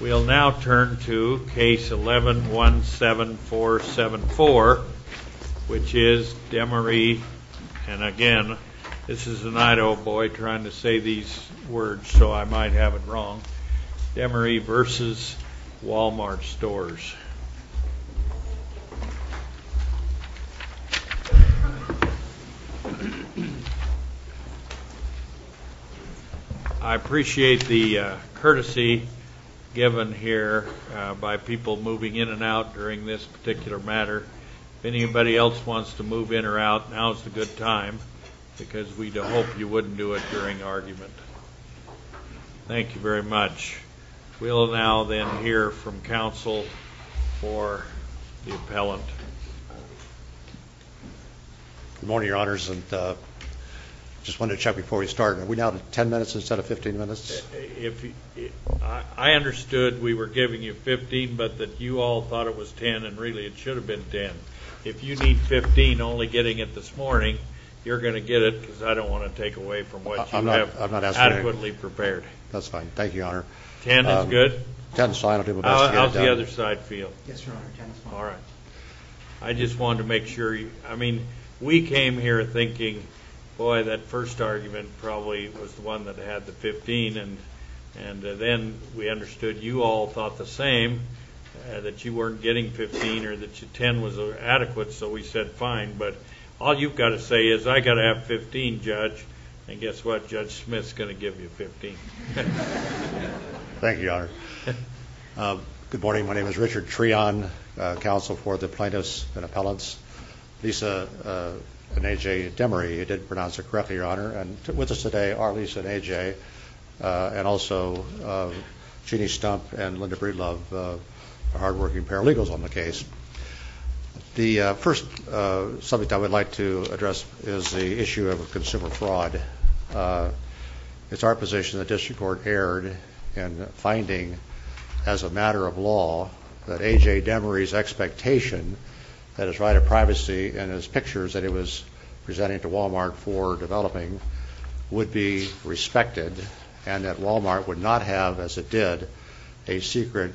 We'll now turn to case 11-17474, which is Demaree, and again, this is an Idaho boy trying to say these words so I might have it wrong, Demaree v. Wal-Mart Stores. I appreciate the courtesy given here by people moving in and out during this particular matter. If anybody else wants to move in or out, now's a good time because we'd hope you wouldn't do it during argument. Thank you very much. We'll now then hear from counsel for the appellant. Good morning, your honors, and just wanted to check before we start. Are we now at 10 minutes instead of 15 minutes? I understood we were giving you 15, but that you all thought it was 10, and really it should have been 10. If you need 15 only getting it this morning, you're going to get it because I don't want to take away from what you have. Thank you, your honor. 10 is good? 10 is fine, I'll do my best to get it down. How's the other side feel? Yes, your honor, 10 is fine. Thank you, your honor. Good morning, my name is Richard Treon, counsel for the plaintiffs and appellants. Lisa and A.J. Demaree, if I didn't pronounce it correctly, your honor, and with us today are Lisa and A.J. and also Jeannie Stump and Linda Breedlove, hardworking paralegals on the case. The first subject I would like to address is the issue of consumer fraud. It's our position the district court erred in finding as a matter of law that A.J. Demaree's expectation that his right of privacy and his pictures that he was presenting to Wal-Mart for developing would be respected and that Wal-Mart would not have, as it did, a secret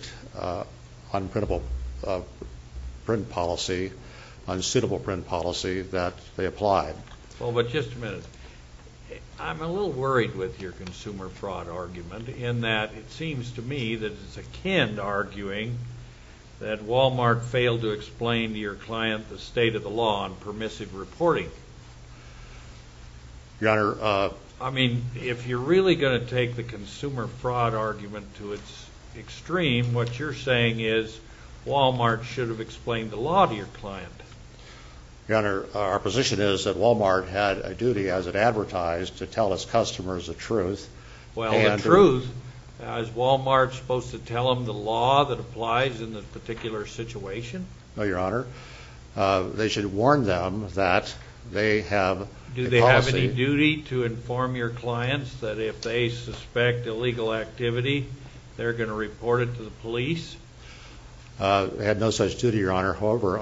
unprintable print policy, unsuitable print policy that they applied. Well, but just a minute, I'm a little worried with your consumer fraud argument in that it seems to me that it's akin to arguing that Wal-Mart failed to explain to your client the state of the law on permissive reporting. Your honor, I mean, if you're really going to take the consumer fraud argument to its extreme, what you're saying is Wal-Mart should have explained the law to your client. Your honor, our position is that Wal-Mart had a duty, as it advertised, to tell its customers the truth. Well, the truth, is Wal-Mart supposed to tell them the law that applies in this particular situation? No, your honor. They should warn them that they have a policy. Do they have any duty to inform your clients that if they suspect illegal activity, they're going to report it to the police? They have no such duty, your honor.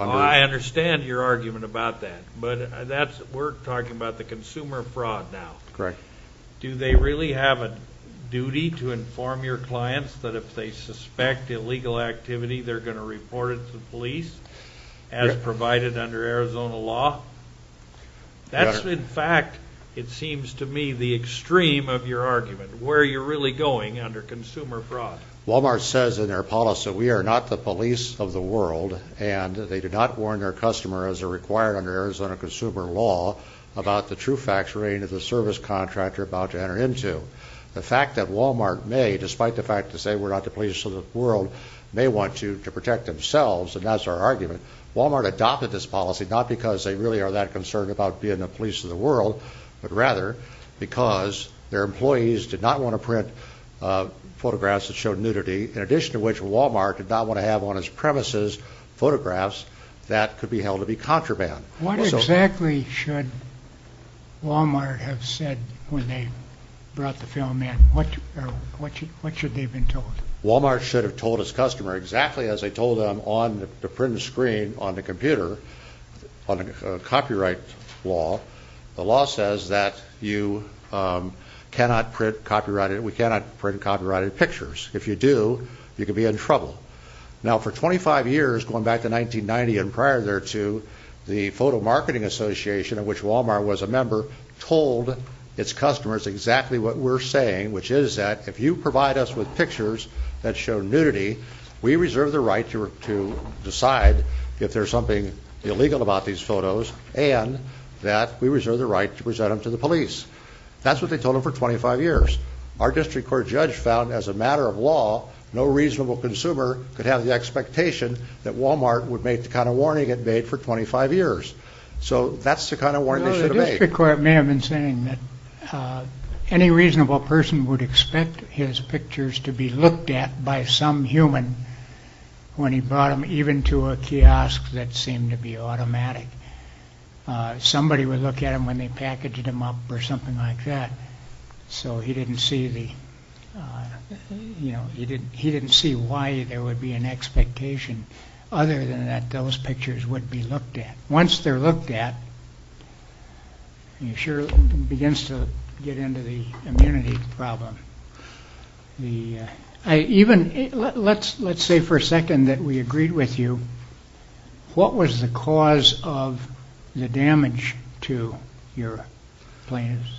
I understand your argument about that, but we're talking about the consumer fraud now. Correct. Do they really have a duty to inform your clients that if they suspect illegal activity, they're going to report it to the police, as provided under Arizona law? Your honor. That's, in fact, it seems to me, the extreme of your argument, where you're really going under consumer fraud. Wal-Mart says in their policy, we are not the police of the world, and they do not warn their customers, as required under Arizona consumer law, about the true facts relating to the service contractor about to enter into. The fact that Wal-Mart may, despite the fact that they say we're not the police of the world, may want to protect themselves, and that's our argument. Wal-Mart adopted this policy, not because they really are that concerned about being the police of the world, but rather because their employees did not want to print photographs that showed nudity, in addition to which Wal-Mart did not want to have on its premises photographs that could be held to be contraband. What exactly should Wal-Mart have said when they brought the film in? What should they have been told? Wal-Mart should have told its customer exactly as they told them on the printed screen on the computer, on a copyright law. The law says that we cannot print copyrighted pictures. If you do, you could be in trouble. Now, for 25 years, going back to 1990 and prior thereto, the Photo Marketing Association, of which Wal-Mart was a member, told its customers exactly what we're saying, which is that if you provide us with pictures that show nudity, we reserve the right to decide if there's something illegal about these photos, and that we reserve the right to present them to the police. That's what they told them for 25 years. Our district court judge found, as a matter of law, no reasonable consumer could have the expectation that Wal-Mart would make the kind of warning it made for 25 years. The district court may have been saying that any reasonable person would expect his pictures to be looked at by some human when he brought them even to a kiosk that seemed to be automatic. Somebody would look at them when they packaged them up or something like that, so he didn't see why there would be an expectation other than that those pictures would be looked at. Once they're looked at, he sure begins to get into the immunity problem. Let's say for a second that we agreed with you. What was the cause of the damage to your plaintiffs?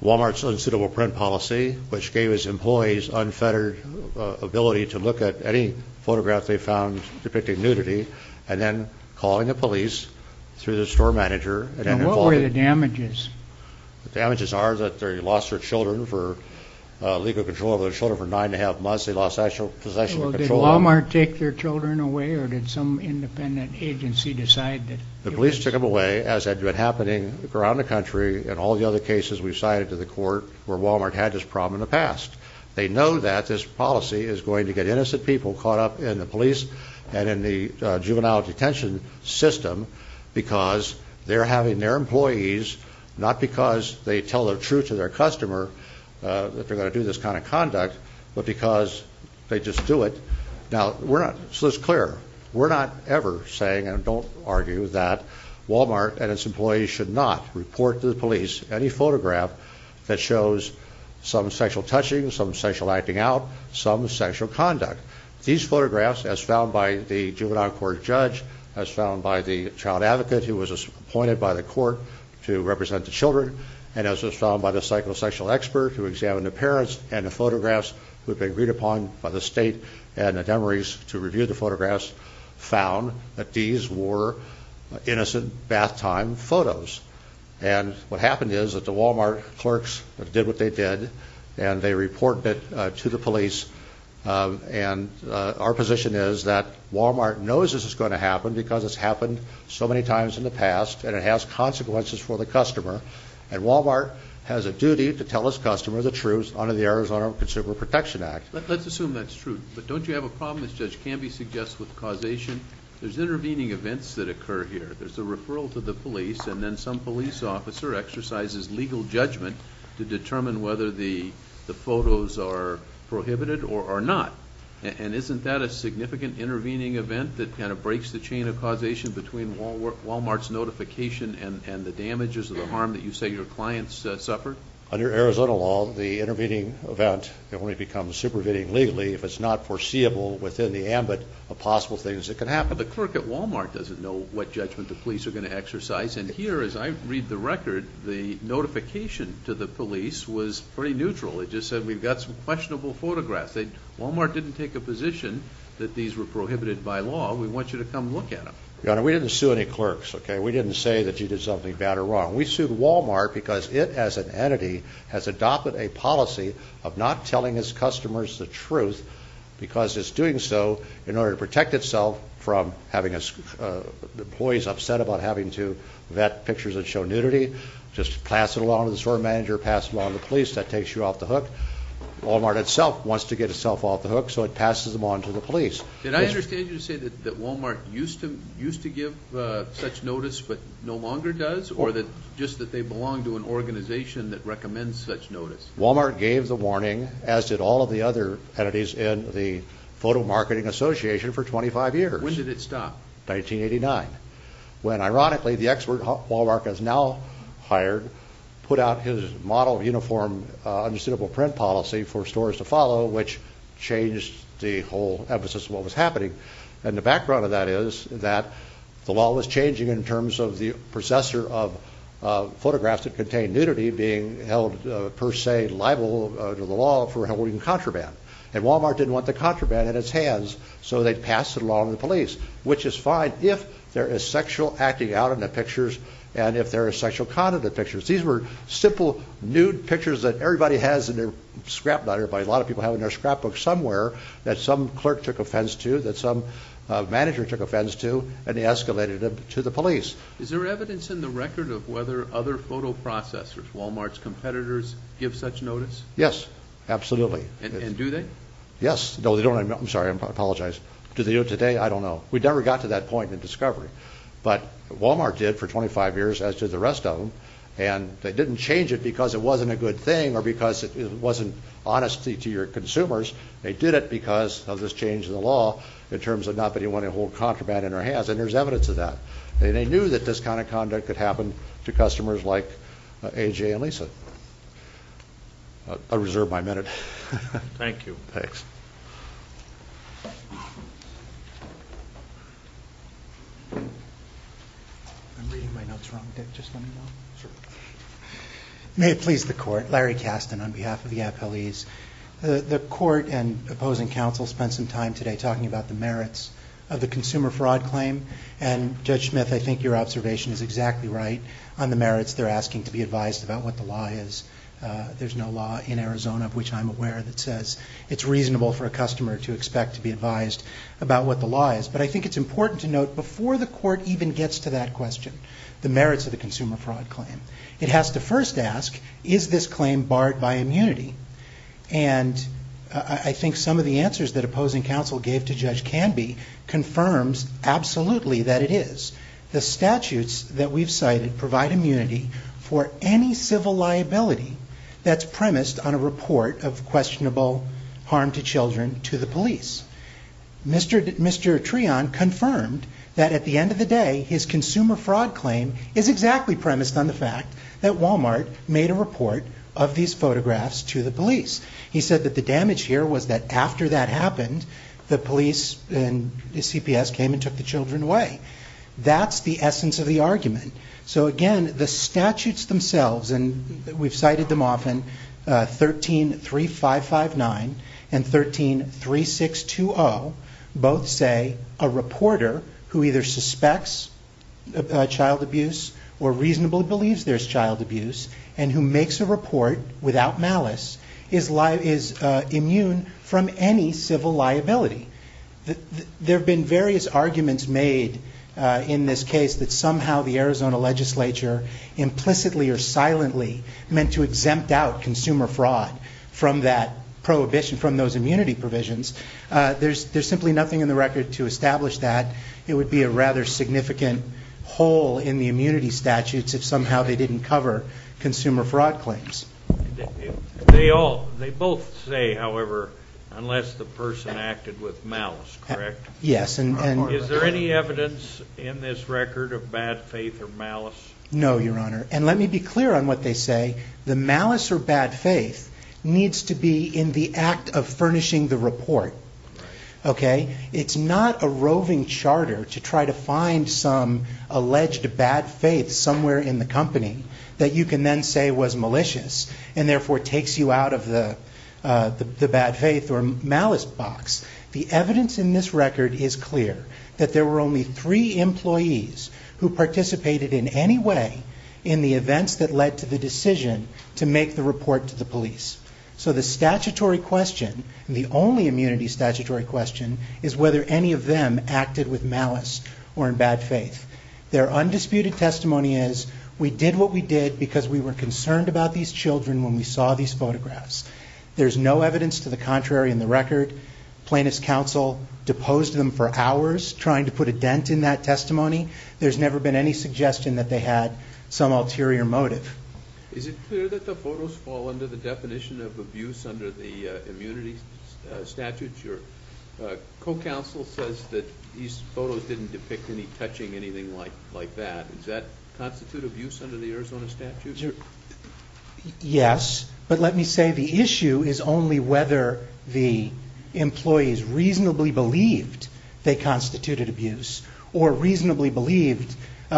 Wal-Mart's unsuitable print policy, which gave its employees unfettered ability to look at any photograph they found depicting nudity and then calling the police through the store manager. And what were the damages? The damages are that they lost their children for legal control of their children for nine and a half months. They lost possession of control of them. Did Wal-Mart take their children away or did some independent agency decide that it was? The police took them away, as had been happening around the country in all the other cases we've cited to the court where Wal-Mart had this problem in the past. They know that this policy is going to get innocent people caught up in the police and in the juvenile detention system because they're having their employees, not because they tell the truth to their customer that they're going to do this kind of conduct, but because they just do it. Now, let's be clear. We're not ever saying, and don't argue, that Wal-Mart and its employees should not report to the police any photograph that shows some sexual touching, some sexual acting out, some sexual conduct. These photographs, as found by the juvenile court judge, as found by the child advocate who was appointed by the court to represent the children, and as was found by the psychosexual expert who examined the parents, and the photographs who had been agreed upon by the state and the demeres to review the photographs, found that these were innocent bath time photos. And what happened is that the Wal-Mart clerks did what they did, and they reported it to the police, and our position is that Wal-Mart knows this is going to happen because it's happened so many times in the past, and it has consequences for the customer, and Wal-Mart has a duty to tell its customer the truth under the Arizona Consumer Protection Act. Let's assume that's true, but don't you have a problem, as Judge Canby suggests, with causation? There's intervening events that occur here. There's a referral to the police, and then some police officer exercises legal judgment to determine whether the photos are prohibited or not, and isn't that a significant intervening event that kind of breaks the chain of causation between Wal-Mart's notification and the damages or the harm that you say your clients suffered? Under Arizona law, the intervening event only becomes supervening legally if it's not foreseeable within the ambit of possible things that can happen. The clerk at Wal-Mart doesn't know what judgment the police are going to exercise, and here, as I read the record, the notification to the police was pretty neutral. It just said we've got some questionable photographs. Wal-Mart didn't take a position that these were prohibited by law. We want you to come look at them. Your Honor, we didn't sue any clerks, okay? We didn't say that you did something bad or wrong. We sued Wal-Mart because it as an entity has adopted a policy of not telling its customers the truth because it's doing so in order to protect itself from having employees upset about having to vet pictures that show nudity. Just pass it along to the store manager, pass it along to the police, that takes you off the hook. Wal-Mart itself wants to get itself off the hook, so it passes them on to the police. Did I understand you to say that Wal-Mart used to give such notice but no longer does, or just that they belong to an organization that recommends such notice? Wal-Mart gave the warning, as did all of the other entities in the Photo Marketing Association, for 25 years. When did it stop? 1989, when, ironically, the expert Wal-Mart has now hired, put out his model uniform unsuitable print policy for stores to follow, which changed the whole emphasis of what was happening. And the background of that is that the law was changing in terms of the possessor of photographs that contained nudity being held, per se, liable to the law for holding contraband. And Wal-Mart didn't want the contraband in its hands, so they passed it along to the police, which is fine if there is sexual acting out in the pictures and if there is sexual content in the pictures. These were simple, nude pictures that everybody has in their scrapbook, not everybody, a lot of people have in their scrapbook somewhere, that some clerk took offense to, that some manager took offense to, and they escalated them to the police. Is there evidence in the record of whether other photo processors, Wal-Mart's competitors, give such notice? Yes, absolutely. And do they? Yes. No, they don't. I'm sorry, I apologize. Do they do it today? I don't know. We never got to that point in discovery. But Wal-Mart did for 25 years, as did the rest of them, and they didn't change it because it wasn't a good thing or because it wasn't honesty to your consumers. They did it because of this change in the law in terms of not wanting to hold contraband in their hands, and there's evidence of that. And they knew that this kind of conduct could happen to customers like A.J. and Lisa. I reserve my minute. Thank you. Thanks. I'm reading my notes wrong. Dick, just let me know. Sure. May it please the Court, Larry Kasten on behalf of the Applees. The Court and opposing counsel spent some time today talking about the merits of the consumer fraud claim, and Judge Smith, I think your observation is exactly right on the merits. They're asking to be advised about what the law is. There's no law in Arizona, of which I'm aware, that says it's reasonable for a customer to expect to be advised about what the law is. But I think it's important to note before the Court even gets to that question, the merits of the consumer fraud claim, it has to first ask, is this claim barred by immunity? And I think some of the answers that opposing counsel gave to Judge Canby confirms absolutely that it is. The statutes that we've cited provide immunity for any civil liability that's premised on a report of questionable harm to children to the police. Mr. Treon confirmed that at the end of the day, his consumer fraud claim is exactly premised on the fact that Walmart made a report of these photographs to the police. He said that the damage here was that after that happened, the police and the CPS came and took the children away. That's the essence of the argument. So again, the statutes themselves, and we've cited them often, 13-3559 and 13-3620, both say a reporter who either suspects child abuse or reasonably believes there's child abuse and who makes a report without malice is immune from any civil liability. There have been various arguments made in this case that somehow the Arizona legislature implicitly or silently meant to exempt out consumer fraud from that prohibition, from those immunity provisions. There's simply nothing in the record to establish that. It would be a rather significant hole in the immunity statutes if somehow they didn't cover consumer fraud claims. They both say, however, unless the person acted with malice, correct? Yes. Is there any evidence in this record of bad faith or malice? No, Your Honor. And let me be clear on what they say. The malice or bad faith needs to be in the act of furnishing the report. Okay? It's not a roving charter to try to find some alleged bad faith somewhere in the company that you can then say was malicious and therefore takes you out of the bad faith or malice box. The evidence in this record is clear that there were only three employees who participated in any way in the events that led to the decision to make the report to the police. So the statutory question, the only immunity statutory question, is whether any of them acted with malice or in bad faith. Their undisputed testimony is we did what we did because we were concerned about these children when we saw these photographs. There's no evidence to the contrary in the record. Plaintiff's counsel deposed them for hours trying to put a dent in that testimony. There's never been any suggestion that they had some ulterior motive. Is it clear that the photos fall under the definition of abuse under the immunity statutes? Your co-counsel says that these photos didn't depict any touching, anything like that. Does that constitute abuse under the Arizona statutes? Yes, but let me say the issue is only whether the employees reasonably believed they constituted abuse or reasonably believed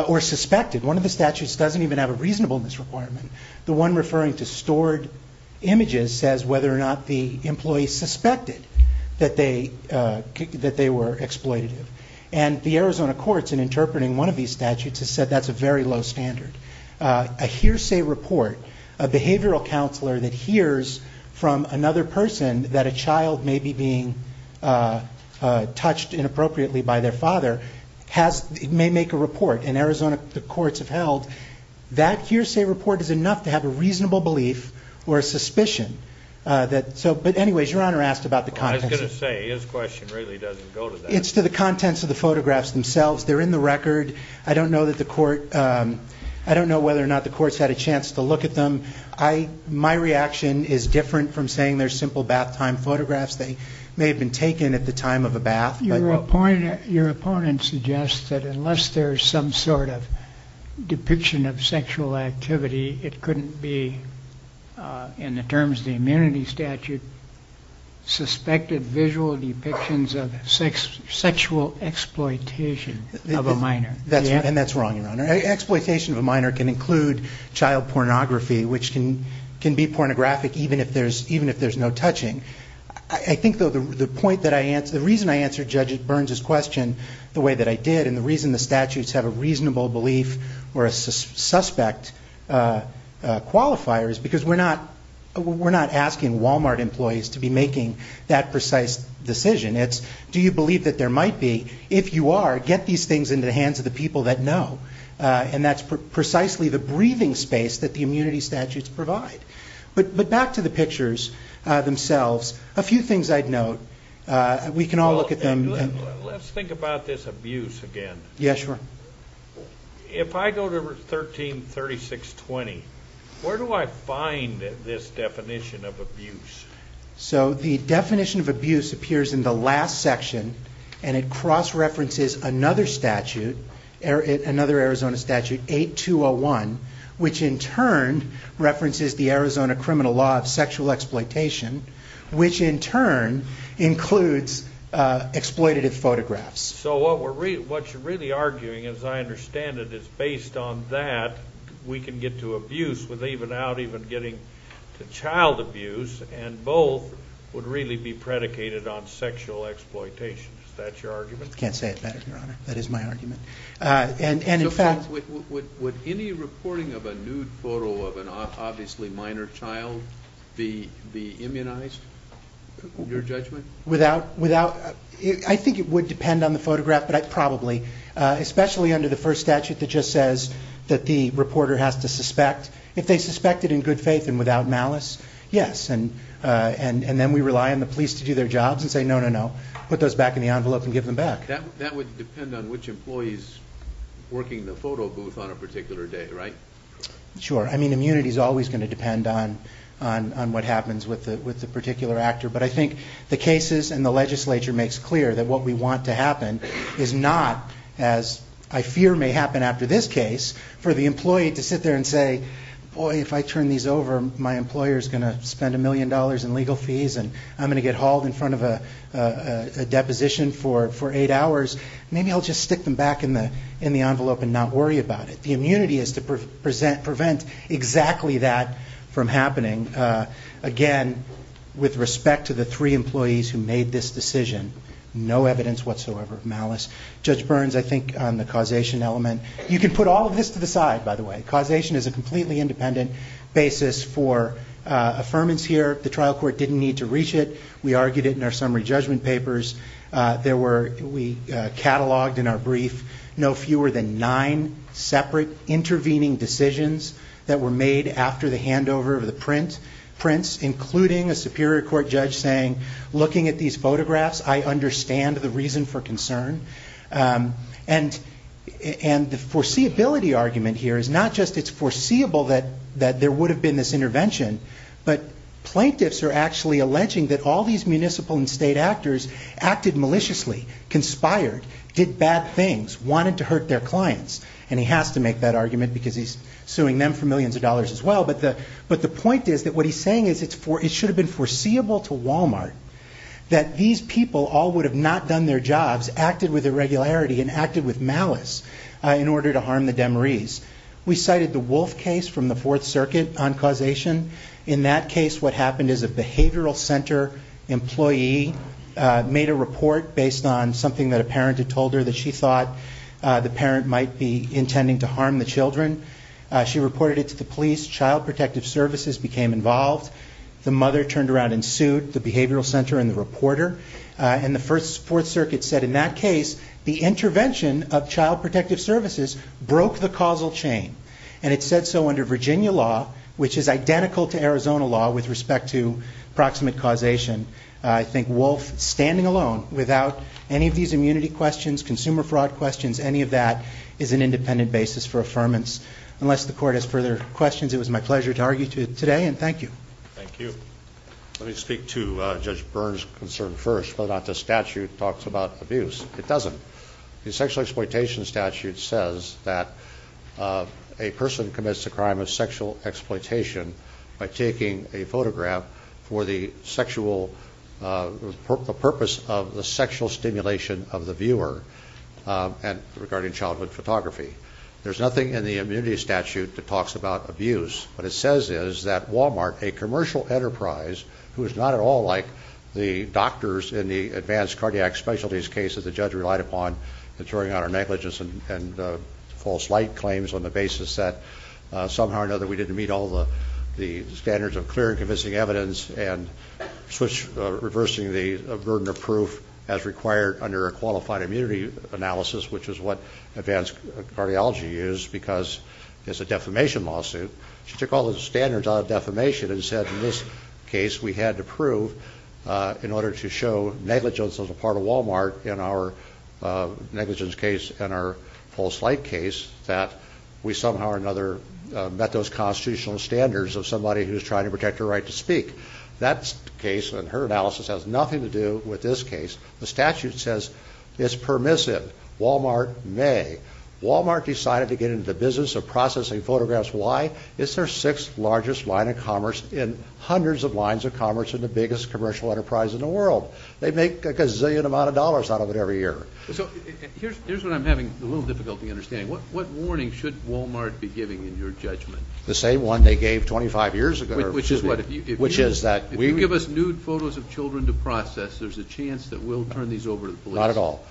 or suspected. One of the statutes doesn't even have a reasonableness requirement. The one referring to stored images says whether or not the employees suspected that they were exploitative. And the Arizona courts in interpreting one of these statutes have said that's a very low standard. A hearsay report, a behavioral counselor that hears from another person that a child may be being touched inappropriately by their father may make a report. In Arizona, the courts have held that hearsay report is enough to have a reasonable belief or a suspicion. But anyways, Your Honor asked about the contents. I was going to say, his question really doesn't go to that. It's to the contents of the photographs themselves. They're in the record. I don't know whether or not the courts had a chance to look at them. My reaction is different from saying they're simple bath time photographs. They may have been taken at the time of a bath. Your opponent suggests that unless there's some sort of depiction of sexual activity, it couldn't be, in the terms of the immunity statute, suspected visual depictions of sexual exploitation of a minor. And that's wrong, Your Honor. Exploitation of a minor can include child pornography, which can be pornographic even if there's no touching. I think, though, the reason I answered Judge Burns's question the way that I did and the reason the statutes have a reasonable belief or a suspect qualifier is because we're not asking Walmart employees to be making that precise decision. It's do you believe that there might be? If you are, get these things into the hands of the people that know. And that's precisely the breathing space that the immunity statutes provide. But back to the pictures themselves, a few things I'd note. We can all look at them. Let's think about this abuse again. Yes, Your Honor. If I go to 133620, where do I find this definition of abuse? So the definition of abuse appears in the last section, and it cross-references another Arizona statute, 8201, which in turn references the Arizona criminal law of sexual exploitation, which in turn includes exploitative photographs. So what you're really arguing, as I understand it, is based on that, we can get to abuse without even getting to child abuse, and both would really be predicated on sexual exploitation. Is that your argument? I can't say it better, Your Honor. That is my argument. Would any reporting of a nude photo of an obviously minor child be immunized, in your judgment? I think it would depend on the photograph, but probably, especially under the first statute that just says that the reporter has to suspect. If they suspect it in good faith and without malice, yes. And then we rely on the police to do their jobs and say, no, no, no, put those back in the envelope and give them back. That would depend on which employee is working the photo booth on a particular day, right? Sure. I mean, immunity is always going to depend on what happens with the particular actor. But I think the cases and the legislature makes clear that what we want to happen is not, as I fear may happen after this case, for the employee to sit there and say, boy, if I turn these over, my employer is going to spend a million dollars in legal fees and I'm going to get hauled in front of a deposition for eight hours, maybe I'll just stick them back in the envelope and not worry about it. The immunity is to prevent exactly that from happening. Again, with respect to the three employees who made this decision, no evidence whatsoever of malice. Judge Burns, I think on the causation element, you can put all of this to the side, by the way. Causation is a completely independent basis for affirmance here. The trial court didn't need to reach it. We argued it in our summary judgment papers. We cataloged in our brief no fewer than nine separate intervening decisions that were made after the handover of the prints, including a Superior Court judge saying, looking at these photographs, I understand the reason for concern. And the foreseeability argument here is not just it's foreseeable that there would have been this intervention, but plaintiffs are actually alleging that all these municipal and state actors acted maliciously, conspired, did bad things, wanted to hurt their clients. And he has to make that argument because he's suing them for millions of dollars as well. But the point is that what he's saying is it should have been foreseeable to Walmart that these people all would have not done their jobs, acted with irregularity, and acted with malice in order to harm the demerese. We cited the Wolf case from the Fourth Circuit on causation. In that case, what happened is a behavioral center employee made a report based on something that a parent had told her that she thought the parent might be intending to harm the children. She reported it to the police. Child protective services became involved. The mother turned around and sued the behavioral center and the reporter. And the Fourth Circuit said, in that case, the intervention of child protective services broke the causal chain. And it said so under Virginia law, which is identical to Arizona law with respect to proximate causation. I think Wolf, standing alone, without any of these immunity questions, consumer fraud questions, any of that is an independent basis for affirmance. Unless the Court has further questions, it was my pleasure to argue today, and thank you. Thank you. Let me speak to Judge Byrne's concern first, whether or not the statute talks about abuse. It doesn't. The sexual exploitation statute says that a person commits the crime of sexual exploitation by taking a photograph for the purpose of the sexual stimulation of the viewer regarding childhood photography. There's nothing in the immunity statute that talks about abuse. What it says is that Walmart, a commercial enterprise, who is not at all like the doctors in the advanced cardiac specialties case that the judge relied upon in throwing out our negligence and false light claims on the basis that somehow or another we didn't meet all the standards of clear and convincing evidence and reversed the burden of proof as required under a qualified immunity analysis, which is what advanced cardiology is because it's a defamation lawsuit. She took all the standards out of defamation and said, in this case, we had to prove in order to show negligence as a part of Walmart in our negligence case and our false light case that we somehow or another met those constitutional standards of somebody who's trying to protect their right to speak. That case and her analysis has nothing to do with this case. The statute says it's permissive. Walmart may. Walmart decided to get into the business of processing photographs. Why? It's their sixth largest line of commerce in hundreds of lines of commerce and the biggest commercial enterprise in the world. They make a gazillion amount of dollars out of it every year. So here's what I'm having a little difficulty understanding. What warning should Walmart be giving in your judgment? The same one they gave 25 years ago. Which is what? Which is that we... If you give us nude photos of children to process, there's a chance that we'll turn these over to the police. Not at all.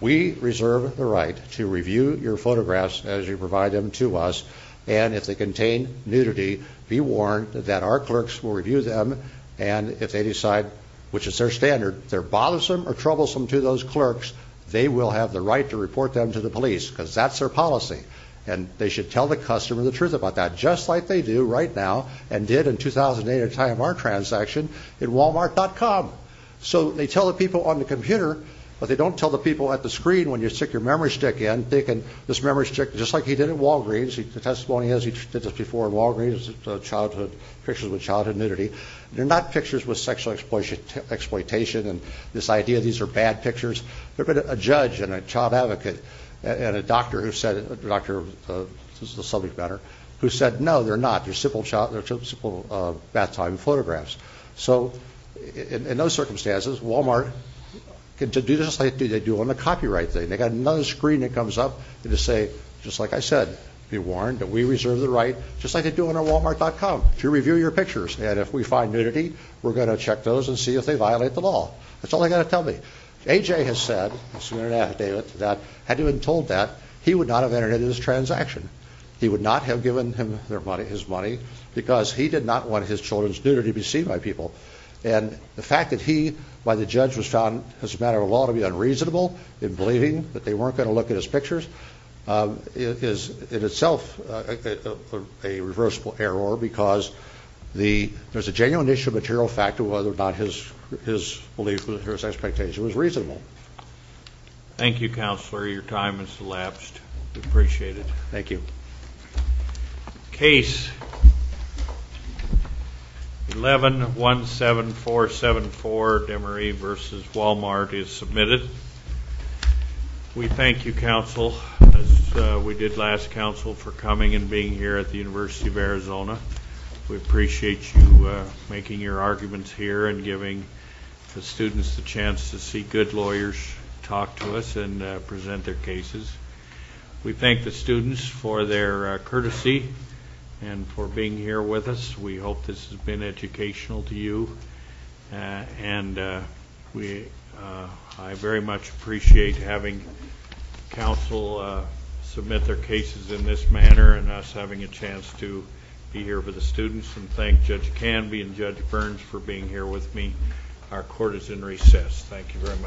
We reserve the right to review your photographs as you provide them to us. And if they contain nudity, be warned that our clerks will review them. And if they decide, which is their standard, they're bothersome or troublesome to those clerks, they will have the right to report them to the police because that's their policy. And they should tell the customer the truth about that just like they do right now and did in 2008 at the time of our transaction at Walmart.com. So they tell the people on the computer, but they don't tell the people at the screen when you stick your memory stick in, thinking this memory stick, just like he did at Walgreens, the testimony is he did this before at Walgreens, pictures with childhood nudity. They're not pictures with sexual exploitation and this idea these are bad pictures. There's been a judge and a child advocate and a doctor who said, this is a subject matter, who said, no, they're not. They're simple bath time photographs. So in those circumstances, Walmart can do this like they do on the copyright thing. They've got another screen that comes up and they say, just like I said, be warned that we reserve the right, just like they do on our Walmart.com, to review your pictures and if we find nudity, we're going to check those and see if they violate the law. That's all they've got to tell me. AJ has said, this is an affidavit, that had he been told that, he would not have entered into this transaction. He would not have given him his money because he did not want his children's nudity to be seen by people. And the fact that he, by the judge, was found, as a matter of law, to be unreasonable in believing that they weren't going to look at his pictures, is in itself a reversible error because there's a genuine issue of material factor whether or not his belief or his expectation was reasonable. Thank you, Counselor. Your time has elapsed. We appreciate it. Thank you. Case 11-17474, Demery v. Walmart, is submitted. We thank you, Counsel, as we did last Counsel, for coming and being here at the University of Arizona. We appreciate you making your arguments here and giving the students the chance to see good lawyers talk to us and present their cases. We thank the students for their courtesy and for being here with us. We hope this has been educational to you. And I very much appreciate having Counsel submit their cases in this manner and us having a chance to be here with the students and thank Judge Canby and Judge Burns for being here with me. Our court is in recess. Thank you very much. All rise.